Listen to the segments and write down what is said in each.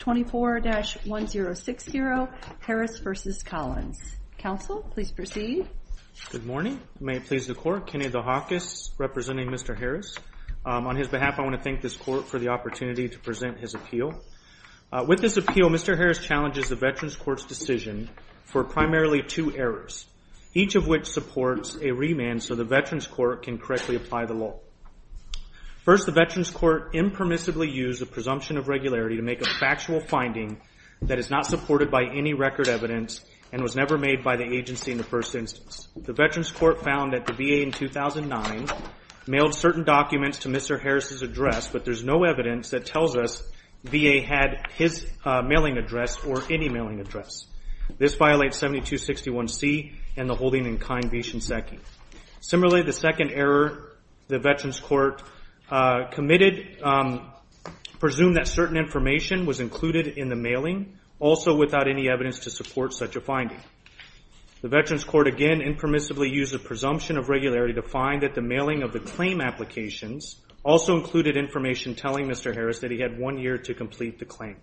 24-1060 Harris v. Collins. Counsel, please proceed. Good morning. May it please the Court, Kenny DeHakis representing Mr. Harris. On his behalf, I want to thank this Court for the opportunity to present his appeal. With this appeal, Mr. Harris challenges the Veterans Court's decision for primarily two errors, each of which supports a remand so the Veterans Court can correctly apply the law. First, the Veterans Court impermissibly used the presumption of regularity to make a factual finding that is not supported by any record evidence and was never made by the agency in the first instance. The Veterans Court found that the VA in 2009 mailed certain documents to Mr. Harris's address, but there's no evidence that tells us VA had his mailing address or any mailing address. This violates 7261C and the holding in kind v. Shinseki. Similarly, the second error the Veterans Court committed presumed that certain information was included in the mailing, also without any evidence to support such a finding. The Veterans Court again impermissibly used the presumption of regularity to find that the mailing of the claim applications also included information telling Mr. Harris that he had one year to complete the claim.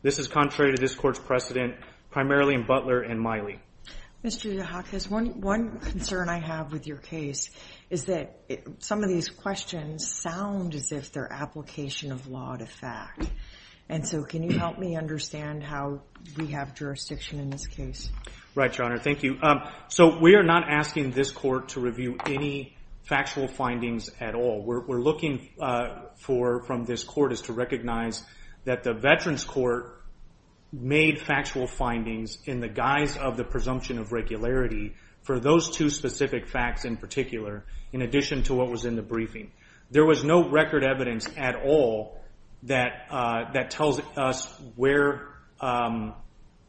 This is contrary to this Court's precedent, primarily in Butler and Miley. Mr. DeHakis, one concern I have with your case is that some of these questions sound as if they're application of law to fact. Can you help me understand how we have jurisdiction in this case? Right, Your Honor. Thank you. We are not asking this Court to review any factual findings at all. What we're looking for from this Court is to recognize that the Veterans Court made factual findings in the guise of the presumption of regularity for those two specific facts in particular, in addition to what was in the briefing. There was no record evidence at all that tells us what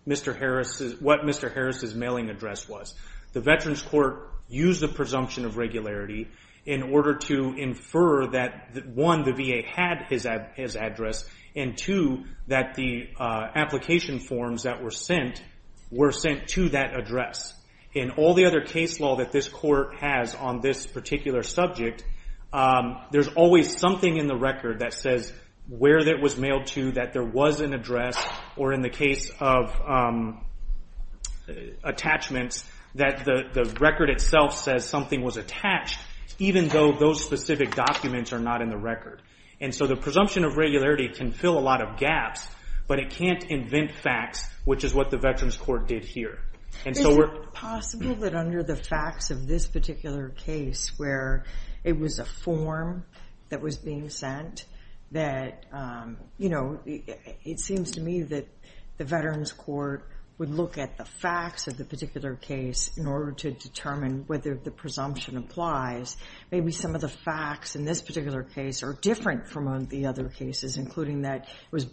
Mr. Harris' mailing address was. The Veterans Court used the presumption of regularity in order to infer that, one, the VA had his address, and two, that the application forms that were sent were sent to that address. In all the other case law that this Court has on this particular subject, there's always something in the record that says where it was mailed to, that there was an address, or in the case of attachments, that the record itself says something was attached, even though those specific documents are not in the record. The presumption of regularity can fill a lot of gaps, but it can't invent facts, which is what the Veterans Court did here. Is it possible that under the facts of this particular case, where it was a form that was being sent, that it seems to me that the Veterans Court would look at the facts of the particular case in order to determine whether the presumption applies? Maybe some of the facts in this particular case are different from the other cases, including that it was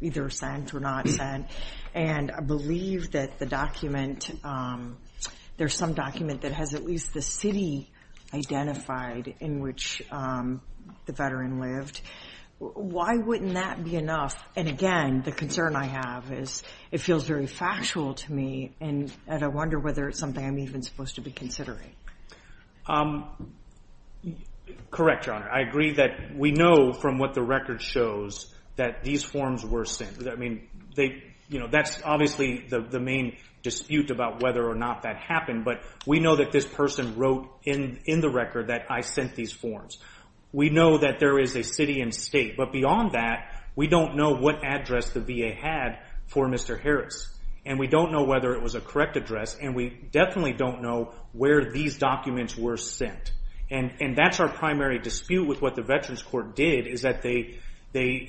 either sent or not sent. I believe that there's some document that has at least the city identified in which the Veteran lived. Why wouldn't that be enough? Again, the concern I have is it feels very factual to me, and I wonder whether it's something I'm even supposed to be considering. Correct, Your Honor. I agree that we know from what the record shows that these forms were sent. That's obviously the main dispute about whether or not that happened, but we know that this person wrote in the record that I sent these forms. We know that there is a city and state, but beyond that, we don't know what address the VA had for Mr. Harris, and we don't know whether it was a correct address, and we definitely don't know where these documents were sent. That's our primary dispute with what the Veterans Court did, is that they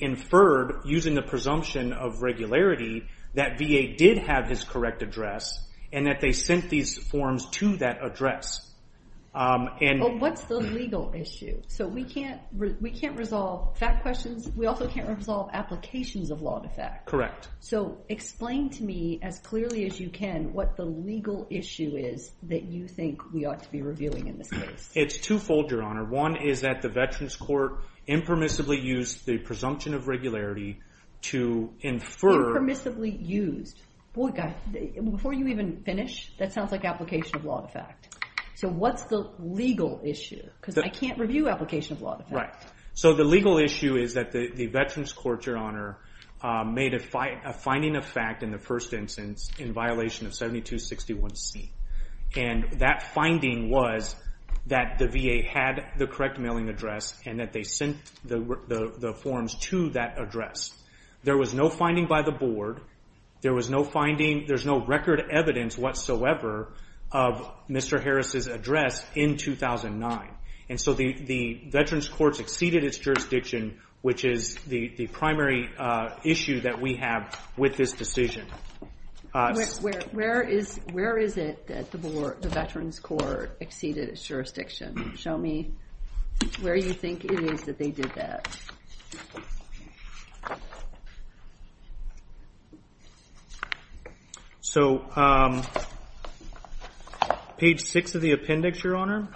inferred, using the presumption of regularity, that VA did have his correct address and that they sent these forms to that address. What's the legal issue? We can't resolve fact questions. We also can't resolve applications of law to fact. Correct. Explain to me, as clearly as you can, what the legal issue is that you think we ought to be reviewing in this case. It's twofold, Your Honor. One is that the Veterans Court impermissibly used the presumption of regularity to infer- Impermissibly used. Boy, before you even finish, that sounds like application of law to fact. What's the legal issue? I can't review application of law to fact. The legal issue is that the Veterans Court, Your Honor, made a finding of fact in the first instance in violation of 7261C. That finding was that the VA had the correct mailing address and that they sent the forms to that address. There was no finding by the board. There was no finding. There's no record evidence whatsoever of Mr. Harris' address in 2009. The Veterans Court exceeded its jurisdiction, which is the primary issue that we have with this decision. Where is it that the Veterans Court exceeded its jurisdiction? Show me where you think it is that they did that. So, page 6 of the appendix, Your Honor.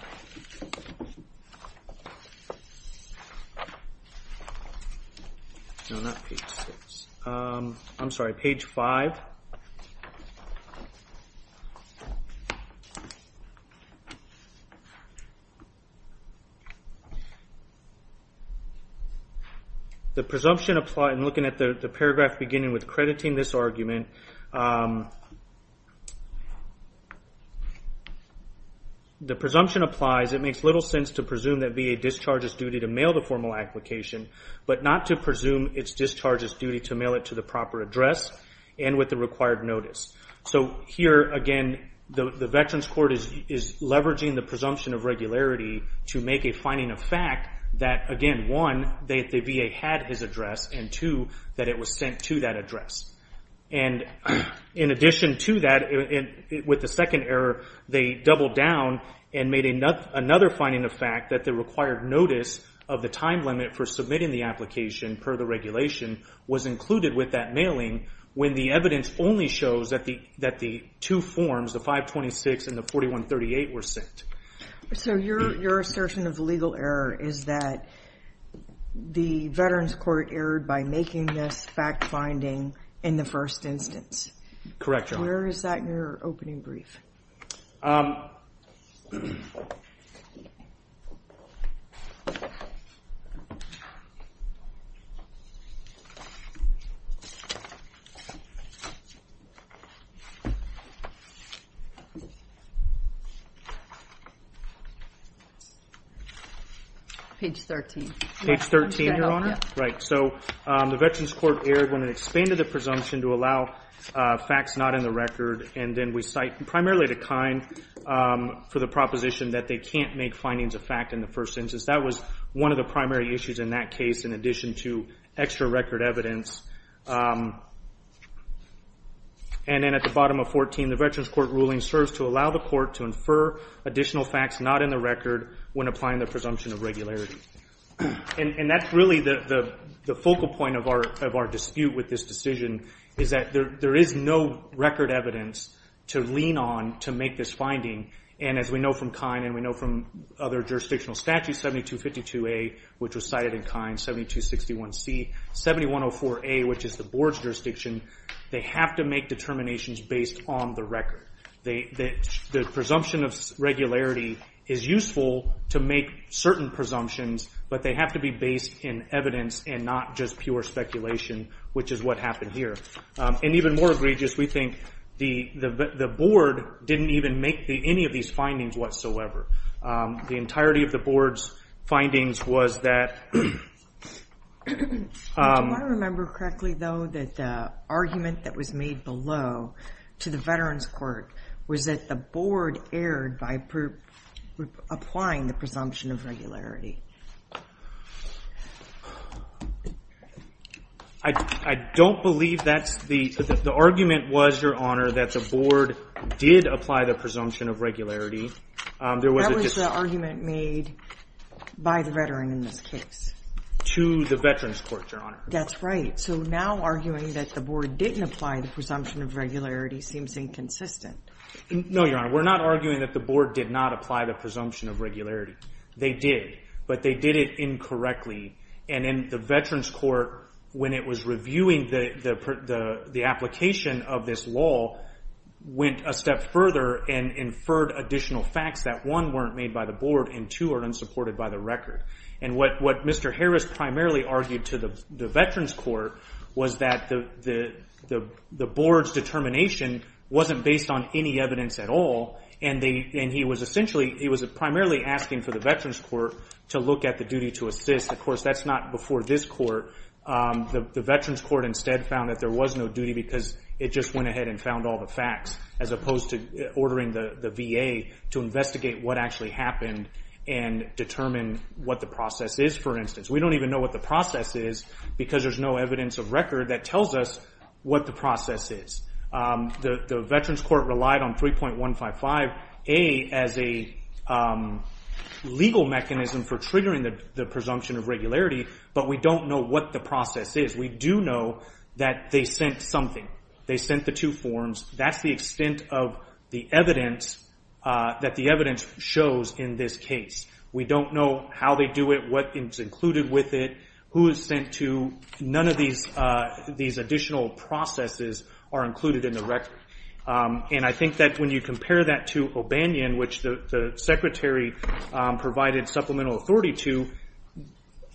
No, not page 6. I'm sorry, page 5. The presumption applies. I'm looking at the paragraph beginning with crediting this argument. The presumption applies. It makes little sense to presume that VA discharges duty to mail the formal application, but not to presume its discharges duty to mail it to the proper address and with the required notice. So here, again, the Veterans Court is leveraging the presumption of regularity to make a finding of fact that, again, one, that the VA had his address, and two, that it was sent to that address. In addition to that, with the second error, they doubled down and made another finding of fact that the required notice of the time limit for submitting the application per the regulation was included with that mailing when the evidence only shows that the two forms, the 526 and the 4138, were sent. So your assertion of legal error is that the Veterans Court erred by making this fact finding in the first instance. Correct, Your Honor. Where is that in your opening brief? Page 13. Page 13, Your Honor? Yes. Right. So the Veterans Court erred when it expanded the presumption to allow facts not in the record, and then we cite primarily the kind for the proposition that they can't make findings of fact in the first instance. That was one of the primary issues in that case, in addition to extra record evidence. And then at the bottom of 14, the Veterans Court ruling serves to allow the court to confer additional facts not in the record when applying the presumption of regularity. And that's really the focal point of our dispute with this decision, is that there is no record evidence to lean on to make this finding. And as we know from KIND and we know from other jurisdictional statutes, 7252A, which was cited in KIND, 7261C, 7104A, which is the board's jurisdiction, they have to make determinations based on the record. The presumption of regularity is useful to make certain presumptions, but they have to be based in evidence and not just pure speculation, which is what happened here. And even more egregious, we think the board didn't even make any of these findings whatsoever. The entirety of the board's findings was that... Do I remember correctly, though, that the argument that was made below to the Veterans Court was that the board erred by applying the presumption of regularity? I don't believe that's the... The argument was, Your Honor, that the board did apply the presumption of regularity. That was the argument made by the veteran in this case. To the Veterans Court, Your Honor. That's right. So now arguing that the board didn't apply the presumption of regularity seems inconsistent. No, Your Honor. We're not arguing that the board did not apply the presumption of regularity. They did, but they did it incorrectly. And then the Veterans Court, when it was reviewing the application of this law, went a step further and inferred additional facts that, one, weren't made by the board and, two, are unsupported by the record. And what Mr. Harris primarily argued to the Veterans Court was that the board's determination wasn't based on any evidence at all, and he was essentially... He was primarily asking for the Veterans Court to look at the duty to assist. Of course, that's not before this court. The Veterans Court instead found that there was no duty because it just went ahead and found all the facts, as opposed to ordering the VA to investigate what actually happened and determine what the process is, for instance. We don't even know what the process is because there's no evidence of record that tells us what the process is. The Veterans Court relied on 3.155A as a legal mechanism for triggering the presumption of regularity, but we don't know what the process is. We do know that they sent something. They sent the two forms. That's the extent of the evidence that the evidence shows in this case. We don't know how they do it, what is included with it, who is sent to. None of these additional processes are included in the record. And I think that when you compare that to O'Banion, which the Secretary provided supplemental authority to,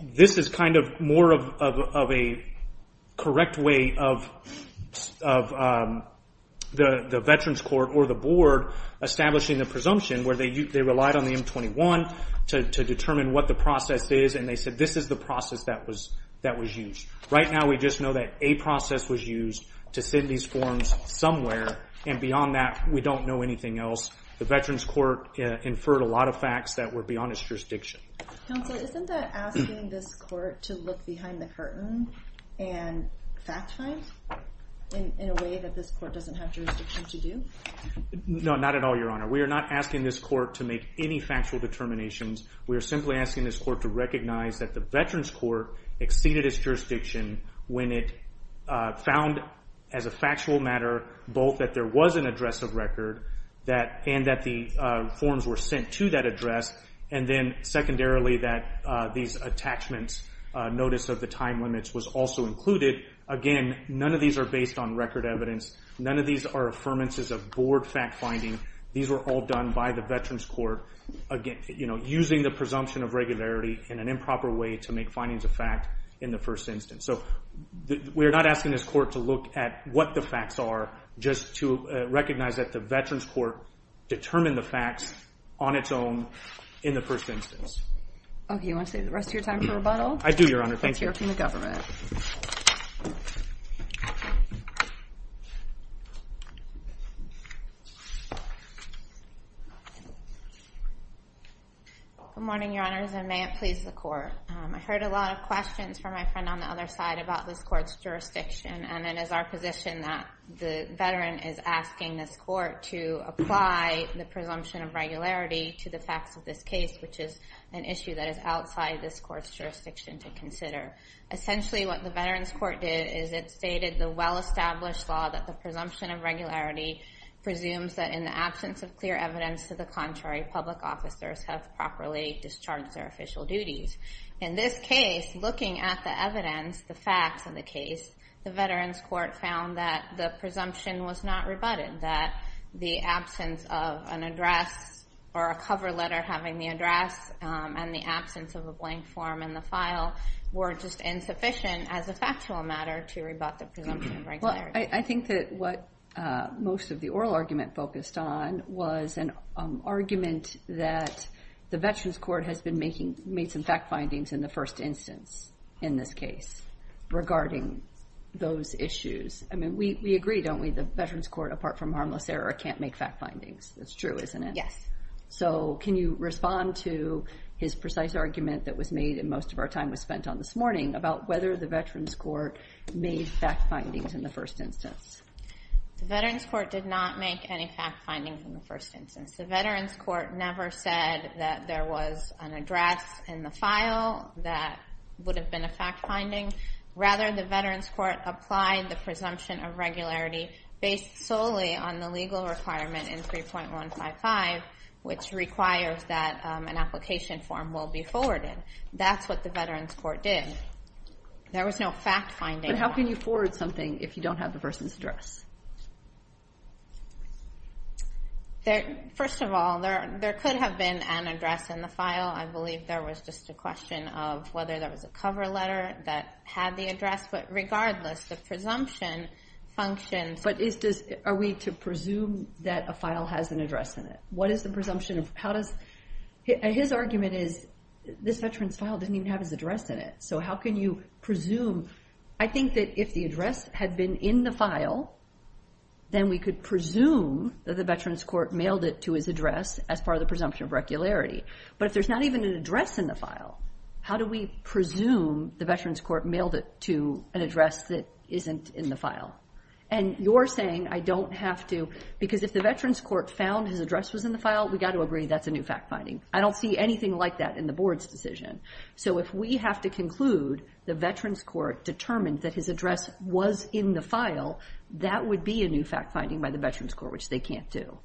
this is kind of more of a correct way of the Veterans Court or the Board establishing the presumption where they relied on the M-21 to determine what the process is, and they said this is the process that was used. Right now we just know that a process was used to send these forms somewhere, and beyond that we don't know anything else. The Veterans Court inferred a lot of facts that were beyond its jurisdiction. Counsel, isn't that asking this court to look behind the curtain and fact-find in a way that this court doesn't have jurisdiction to do? No, not at all, Your Honor. We are not asking this court to make any factual determinations. We are simply asking this court to recognize that the Veterans Court exceeded its jurisdiction when it found as a factual matter both that there was an address of record and that the forms were sent to that address, and then secondarily that these attachments notice of the time limits was also included. Again, none of these are based on record evidence. None of these are affirmances of Board fact-finding. These were all done by the Veterans Court using the presumption of regularity in an improper way to make findings of fact in the first instance. We are not asking this court to look at what the facts are just to recognize that the Veterans Court determined the facts on its own in the first instance. Okay, you want to save the rest of your time for rebuttal? I do, Your Honor. Thank you. Let's hear from the government. Good morning, Your Honors, and may it please the Court. I heard a lot of questions from my friend on the other side about this court's jurisdiction, and it is our position that the veteran is asking this court to apply the presumption of regularity to the facts of this case, which is an issue that is outside this court's jurisdiction to consider. Essentially, what the Veterans Court did is it stated the well-established law that the presumption of regularity presumes that in the absence of clear evidence to the contrary, public officers have properly discharged their official duties. In this case, looking at the evidence, the facts of the case, the Veterans Court found that the presumption was not rebutted, that the absence of an address or a cover letter having the address and the absence of a blank form in the file were just insufficient as a factual matter to rebut the presumption of regularity. Well, I think that what most of the oral argument focused on was an argument that the Veterans Court has made some fact findings in the first instance in this case regarding those issues. I mean, we agree, don't we, the Veterans Court, apart from harmless error, can't make fact findings. That's true, isn't it? Yes. So can you respond to his precise argument that was made and most of our time was spent on this morning about whether the Veterans Court made fact findings in the first instance? The Veterans Court did not make any fact findings in the first instance. The Veterans Court never said that there was an address in the file that would have been a fact finding. Rather, the Veterans Court applied the presumption of regularity based solely on the legal requirement in 3.155, which requires that an application form will be forwarded. That's what the Veterans Court did. There was no fact finding. But how can you forward something if you don't have the person's address? First of all, there could have been an address in the file. I believe there was just a question of whether there was a cover letter that had the address. But regardless, the presumption functions. But are we to presume that a file has an address in it? What is the presumption of how does his argument is this veteran's file didn't even have his address in it. So how can you presume? I think that if the address had been in the file, then we could presume that the Veterans Court mailed it to his address as part of the presumption of regularity. But if there's not even an address in the file, how do we presume the Veterans Court mailed it to an address that isn't in the file? And you're saying I don't have to because if the Veterans Court found his address was in the file, we got to agree that's a new fact finding. I don't see anything like that in the board's decision. So if we have to conclude the Veterans Court determined that his address was in the file, that would be a new fact finding by the Veterans Court, which they can't do.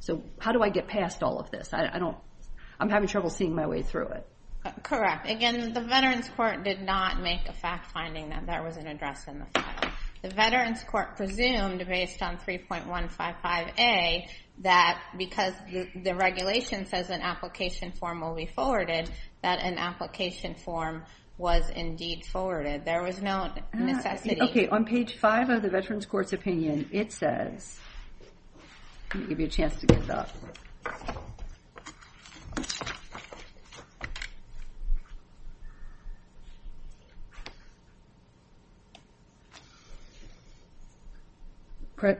So how do I get past all of this? I'm having trouble seeing my way through it. Correct. Again, the Veterans Court did not make a fact finding that there was an address in the file. The Veterans Court presumed based on 3.155A that because the regulation says an application form will be forwarded, that an application form was indeed forwarded. There was no necessity. Okay. On page 5 of the Veterans Court's opinion, it says, let me give you a chance to get it up.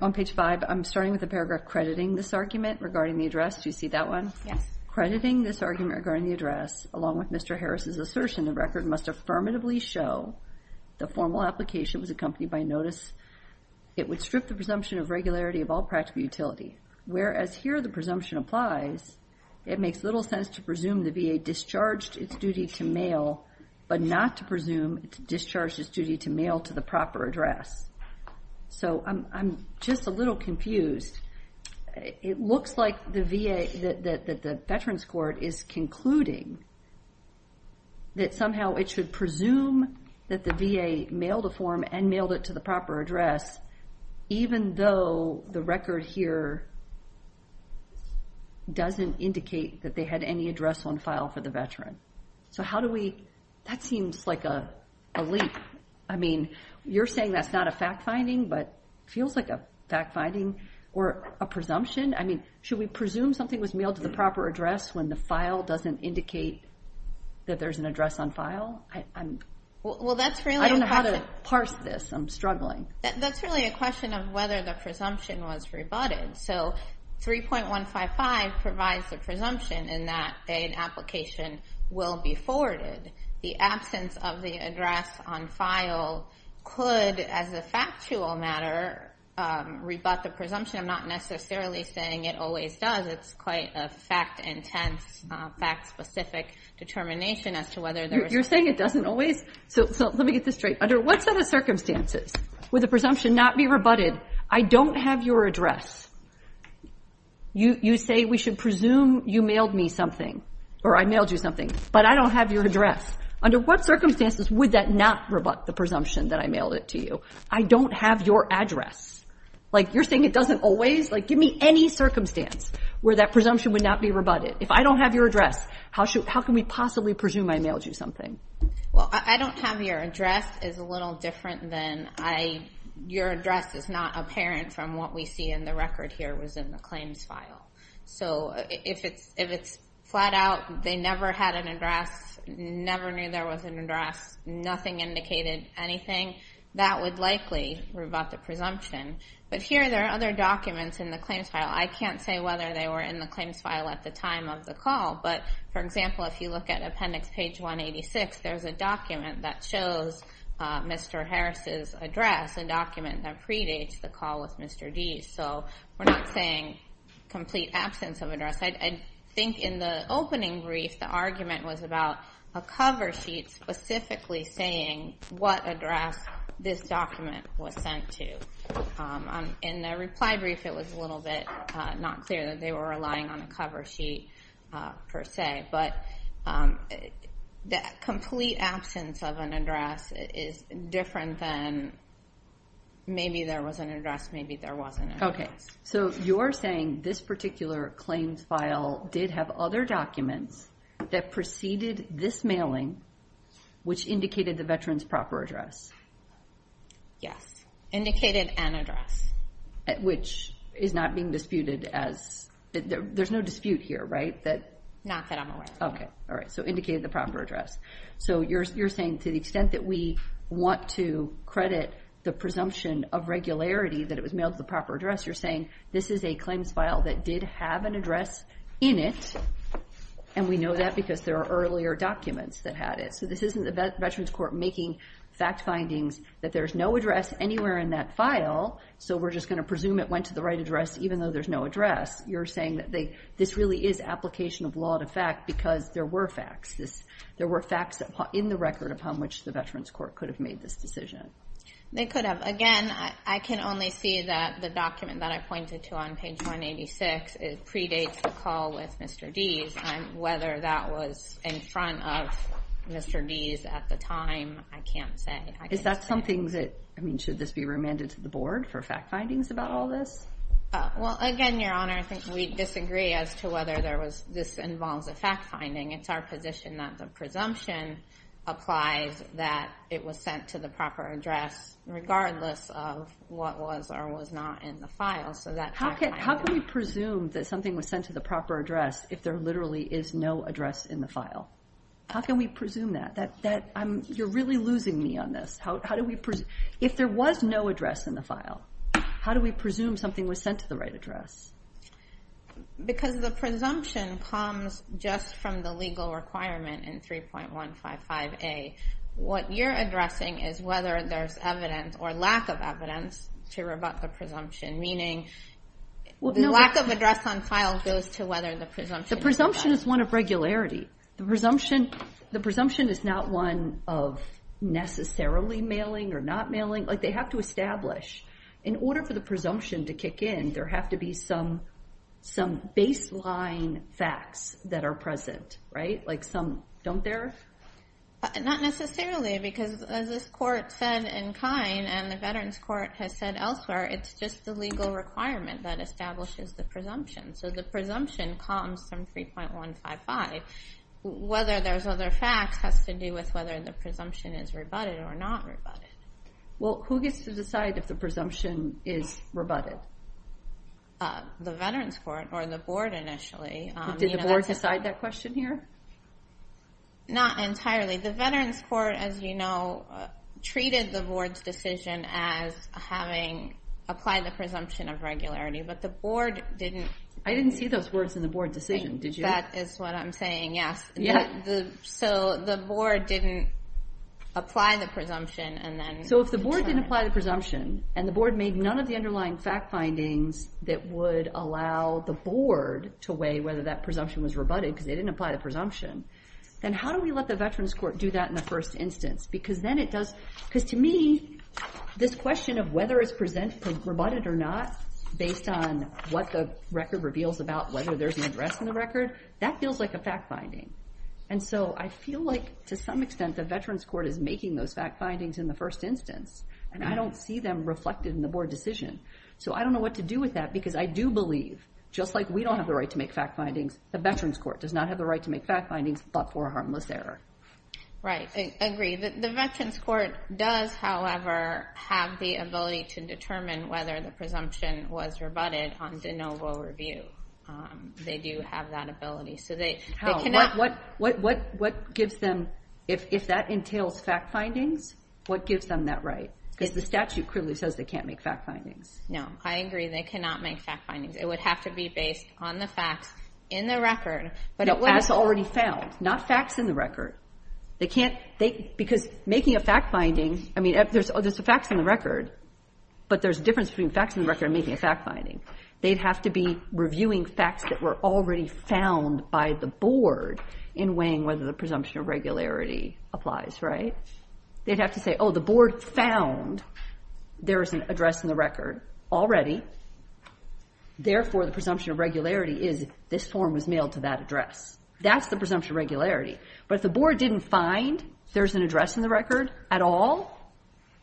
On page 5, I'm starting with the paragraph crediting this argument regarding the address. Do you see that one? Yes. Crediting this argument regarding the address, along with Mr. Harris' assertion, the record must affirmatively show the formal application was accompanied by notice. It would strip the presumption of regularity of all practical utility. Whereas here the presumption applies, it makes little sense to presume the VA discharged its duty to mail, but not to presume it discharged its duty to mail to the proper address. So I'm just a little confused. It looks like the VA, that the Veterans Court is concluding that somehow it should presume that the VA mailed a form and mailed it to the proper address, even though the record here doesn't indicate that they had any address on file for the veteran. So how do we, that seems like a leap. I mean, you're saying that's not a fact finding, but it feels like a fact finding or a presumption. I mean, should we presume something was mailed to the proper address when the file doesn't indicate that there's an address on file? I don't know how to parse this. I'm struggling. That's really a question of whether the presumption was rebutted. So 3.155 provides the presumption in that an application will be forwarded. The absence of the address on file could, as a factual matter, rebut the presumption. I'm not necessarily saying it always does. It's quite a fact-intense, fact-specific determination as to whether there was one. You're saying it doesn't always? So let me get this straight. Under what set of circumstances would the presumption not be rebutted? I don't have your address. You say we should presume you mailed me something or I mailed you something, but I don't have your address. Under what circumstances would that not rebut the presumption that I mailed it to you? I don't have your address. Like, you're saying it doesn't always? Like, give me any circumstance where that presumption would not be rebutted. If I don't have your address, how can we possibly presume I mailed you something? Well, I don't have your address. It's a little different than I... Your address is not apparent from what we see in the record here was in the claims file. So if it's flat out, they never had an address, never knew there was an address, nothing indicated anything, that would likely rebut the presumption. But here there are other documents in the claims file. I can't say whether they were in the claims file at the time of the call. But, for example, if you look at appendix page 186, there's a document that shows Mr. Harris' address, a document that predates the call with Mr. Deese. So we're not saying complete absence of address. I think in the opening brief the argument was about a cover sheet specifically saying what address this document was sent to. In the reply brief it was a little bit not clear that they were relying on a cover sheet per se. But the complete absence of an address is different than maybe there was an address, maybe there wasn't an address. Okay, so you're saying this particular claims file did have other documents that preceded this mailing, which indicated the veteran's proper address. Yes, indicated an address. Which is not being disputed as – there's no dispute here, right? Not that I'm aware of. Okay, all right, so indicated the proper address. So you're saying to the extent that we want to credit the presumption of regularity that it was mailed to the proper address, you're saying this is a claims file that did have an address in it, and we know that because there are earlier documents that had it. So this isn't the Veterans Court making fact findings that there's no address anywhere in that file, so we're just going to presume it went to the right address even though there's no address. You're saying that this really is application of law to fact because there were facts. There were facts in the record upon which the Veterans Court could have made this decision. They could have. Again, I can only see that the document that I pointed to on page 186, it predates the call with Mr. Deese, and whether that was in front of Mr. Deese at the time, I can't say. Is that something that – I mean, should this be remanded to the board for fact findings about all this? Well, again, Your Honor, I think we disagree as to whether this involves a fact finding. It's our position that the presumption applies that it was sent to the proper address regardless of what was or was not in the file. How can we presume that something was sent to the proper address if there literally is no address in the file? How can we presume that? You're really losing me on this. If there was no address in the file, how do we presume something was sent to the right address? Because the presumption comes just from the legal requirement in 3.155A. What you're addressing is whether there's evidence or lack of evidence to rebut the presumption, meaning the lack of address on file goes to whether the presumption is rebutted. The presumption is one of regularity. The presumption is not one of necessarily mailing or not mailing. They have to establish. In order for the presumption to kick in, there have to be some baseline facts that are present, right? Like some don't there? Not necessarily because, as this court said in Kine and the Veterans Court has said elsewhere, it's just the legal requirement that establishes the presumption. So the presumption comes from 3.155. Whether there's other facts has to do with whether the presumption is rebutted or not rebutted. Well, who gets to decide if the presumption is rebutted? The Veterans Court or the board initially. Did the board decide that question here? Not entirely. The Veterans Court, as you know, treated the board's decision as having applied the presumption of regularity, but the board didn't. I didn't see those words in the board decision, did you? That is what I'm saying, yes. So the board didn't apply the presumption and then. So if the board didn't apply the presumption and the board made none of the underlying fact findings that would allow the board to weigh whether that presumption was rebutted because they didn't apply the presumption, then how do we let the Veterans Court do that in the first instance? Because to me, this question of whether it's presented, rebutted or not, based on what the record reveals about whether there's an address in the record, that feels like a fact finding. And so I feel like to some extent the Veterans Court is making those fact findings in the first instance and I don't see them reflected in the board decision. So I don't know what to do with that because I do believe, just like we don't have the right to make fact findings, the Veterans Court does not have the right to make fact findings but for a harmless error. Right, I agree. The Veterans Court does, however, have the ability to determine whether the presumption was rebutted on de novo review. They do have that ability. What gives them, if that entails fact findings, what gives them that right? Because the statute clearly says they can't make fact findings. No, I agree they cannot make fact findings. It would have to be based on the facts in the record. No, as already found, not facts in the record. They can't, because making a fact finding, I mean, there's the facts in the record, but there's a difference between facts in the record and making a fact finding. They'd have to be reviewing facts that were already found by the board in weighing whether the presumption of regularity applies, right? They'd have to say, oh, the board found there is an address in the record already. Therefore, the presumption of regularity is this form was mailed to that address. That's the presumption of regularity. But if the board didn't find there's an address in the record at all,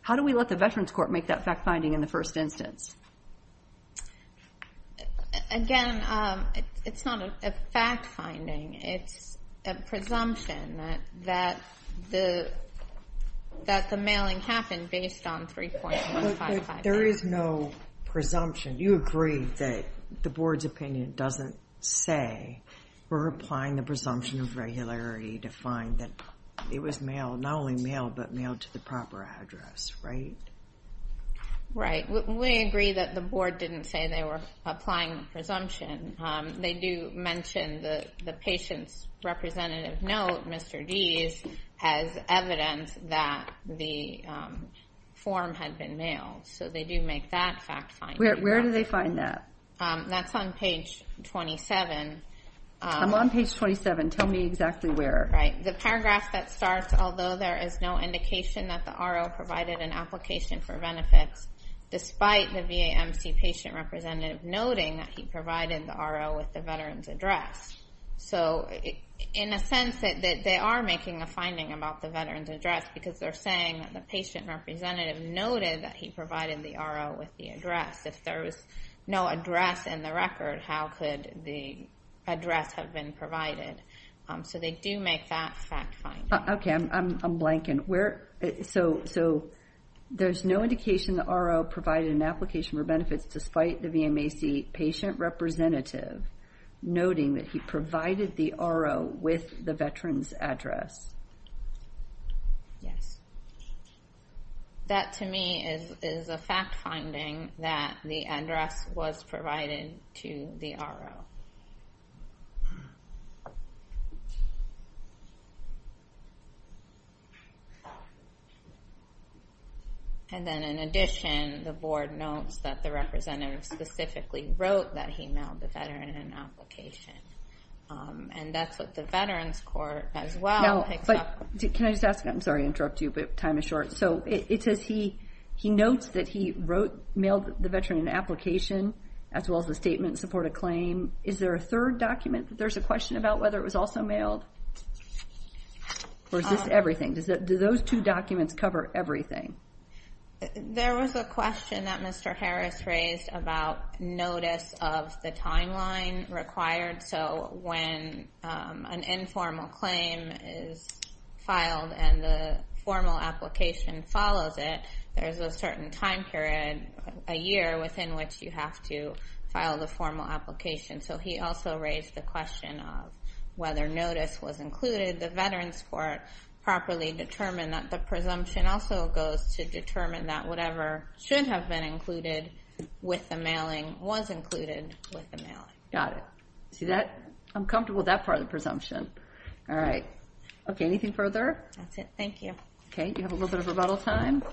how do we let the Veterans Court make that fact finding in the first instance? Again, it's not a fact finding. It's a presumption that the mailing happened based on 3.155. There is no presumption. You agree that the board's opinion doesn't say we're applying the presumption of regularity to find that it was not only mailed, but mailed to the proper address, right? Right. We agree that the board didn't say they were applying the presumption. They do mention the patient's representative note, Mr. D's, has evidence that the form had been mailed. So they do make that fact finding. Where do they find that? That's on page 27. I'm on page 27. Tell me exactly where. Right. The paragraph that starts, although there is no indication that the RO provided an application for benefits, despite the VAMC patient representative noting that he provided the RO with the veteran's address. In a sense, they are making a finding about the veteran's address because they're saying that the patient representative noted that he provided the RO with the address. If there was no address in the record, how could the address have been provided? So they do make that fact finding. Okay. I'm blanking. So there's no indication the RO provided an application for benefits, despite the VAMC patient representative noting that he provided the RO with the veteran's address. Yes. That, to me, is a fact finding that the address was provided to the RO. And then in addition, the board notes that the representative specifically wrote that he mailed the veteran an application. And that's what the Veterans Court, as well, picks up. Can I just ask? I'm sorry to interrupt you, but time is short. So it says he notes that he wrote, mailed the veteran an application, as well as the statement to support a claim. Is there a third document that there's a question about, whether it was also mailed? Or is this everything? Do those two documents cover everything? There was a question that Mr. Harris raised about notice of the timeline required. So when an informal claim is filed and the formal application follows it, there's a certain time period, a year, within which you have to file the formal application. So he also raised the question of whether notice was included. The Veterans Court properly determined that. The presumption also goes to determine that whatever should have been included with the mailing was included with the mailing. Got it. See that? I'm comfortable with that part of the presumption. All right. Okay, anything further? That's it. Thank you. Okay, you have a little bit of rebuttal time.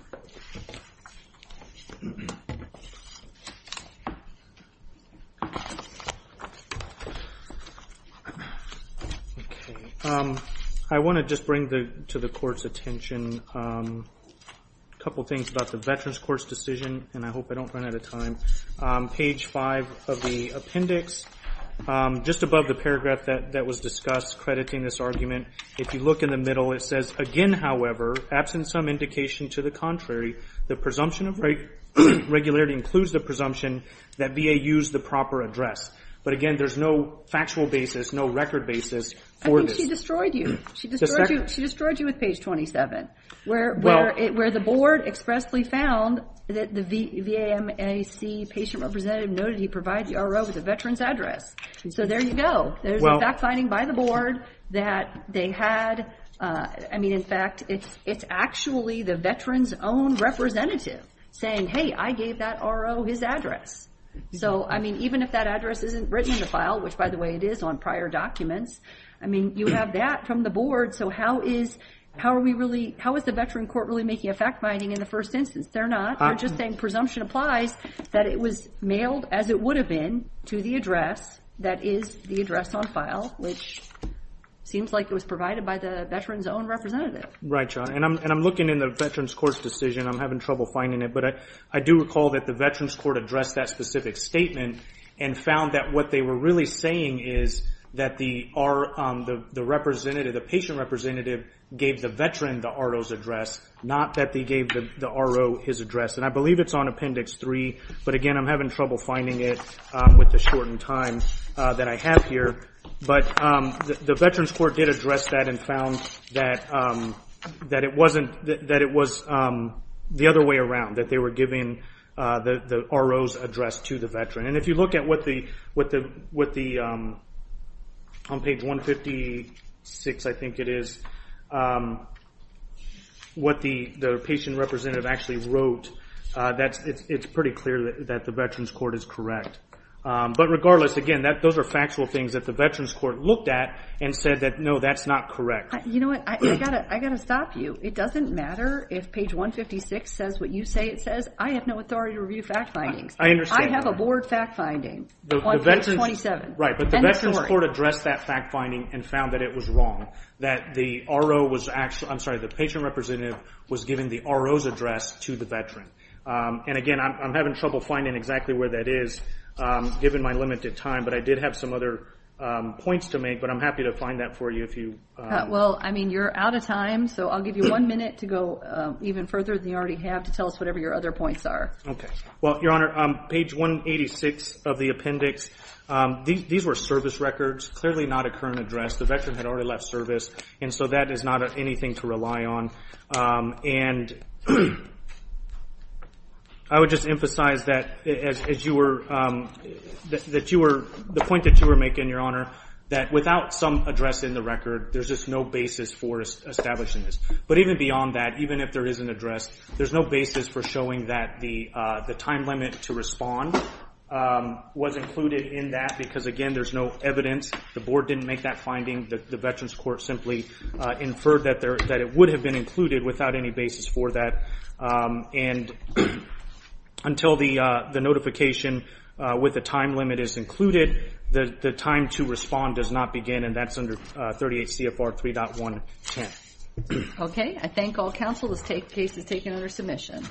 I want to just bring to the Court's attention a couple things about the Veterans Court's decision, and I hope I don't run out of time. Page 5 of the appendix, just above the paragraph that was discussed crediting this argument, if you look in the middle, it says, again, however, absent some indication to the contrary, the presumption of regularity includes the presumption that VA used the proper address. But, again, there's no factual basis, no record basis for this. I think she destroyed you. She destroyed you with page 27, where the board expressly found that the VAMAC patient representative noted he provided the RO with a veteran's address. So there you go. There's a fact-finding by the board that they had. I mean, in fact, it's actually the veteran's own representative saying, hey, I gave that RO his address. So, I mean, even if that address isn't written in the file, which, by the way, it is on prior documents, I mean, you have that from the board. So how is the veteran court really making a fact-finding in the first instance? They're not. They're just saying presumption applies that it was mailed as it would have been to the address that is the address on file, which seems like it was provided by the veteran's own representative. Right, John. And I'm looking in the veteran's court's decision. I'm having trouble finding it. But I do recall that the veteran's court addressed that specific statement and found that what they were really saying is that the patient representative gave the veteran the RO's address, not that they gave the RO his address. And I believe it's on Appendix 3. But, again, I'm having trouble finding it with the shortened time that I have here. But the veteran's court did address that and found that it was the other way around, that they were giving the RO's address to the veteran. And if you look at what the, on page 156, I think it is, what the patient representative actually wrote, it's pretty clear that the veteran's court is correct. But, regardless, again, those are factual things that the veteran's court looked at and said that, no, that's not correct. You know what? I've got to stop you. It doesn't matter if page 156 says what you say it says. I have no authority to review fact findings. I understand. I have a board fact finding on page 27. Right, but the veteran's court addressed that fact finding and found that it was wrong, that the RO was actually, I'm sorry, the patient representative was giving the RO's address to the veteran. And, again, I'm having trouble finding exactly where that is given my limited time. But I did have some other points to make, but I'm happy to find that for you if you. Well, I mean, you're out of time, so I'll give you one minute to go even further than you already have to tell us whatever your other points are. Okay. Well, Your Honor, page 186 of the appendix, these were service records, clearly not a current address. The veteran had already left service, and so that is not anything to rely on. And I would just emphasize that as you were the point that you were making, Your Honor, that without some address in the record, there's just no basis for establishing this. But even beyond that, even if there is an address, there's no basis for showing that the time limit to respond was included in that because, again, there's no evidence. The board didn't make that finding. The veteran's court simply inferred that it would have been included without any basis for that. And until the notification with the time limit is included, the time to respond does not begin, and that's under 38 CFR 3.110. Okay. I thank all counsel. This case is taken under submission.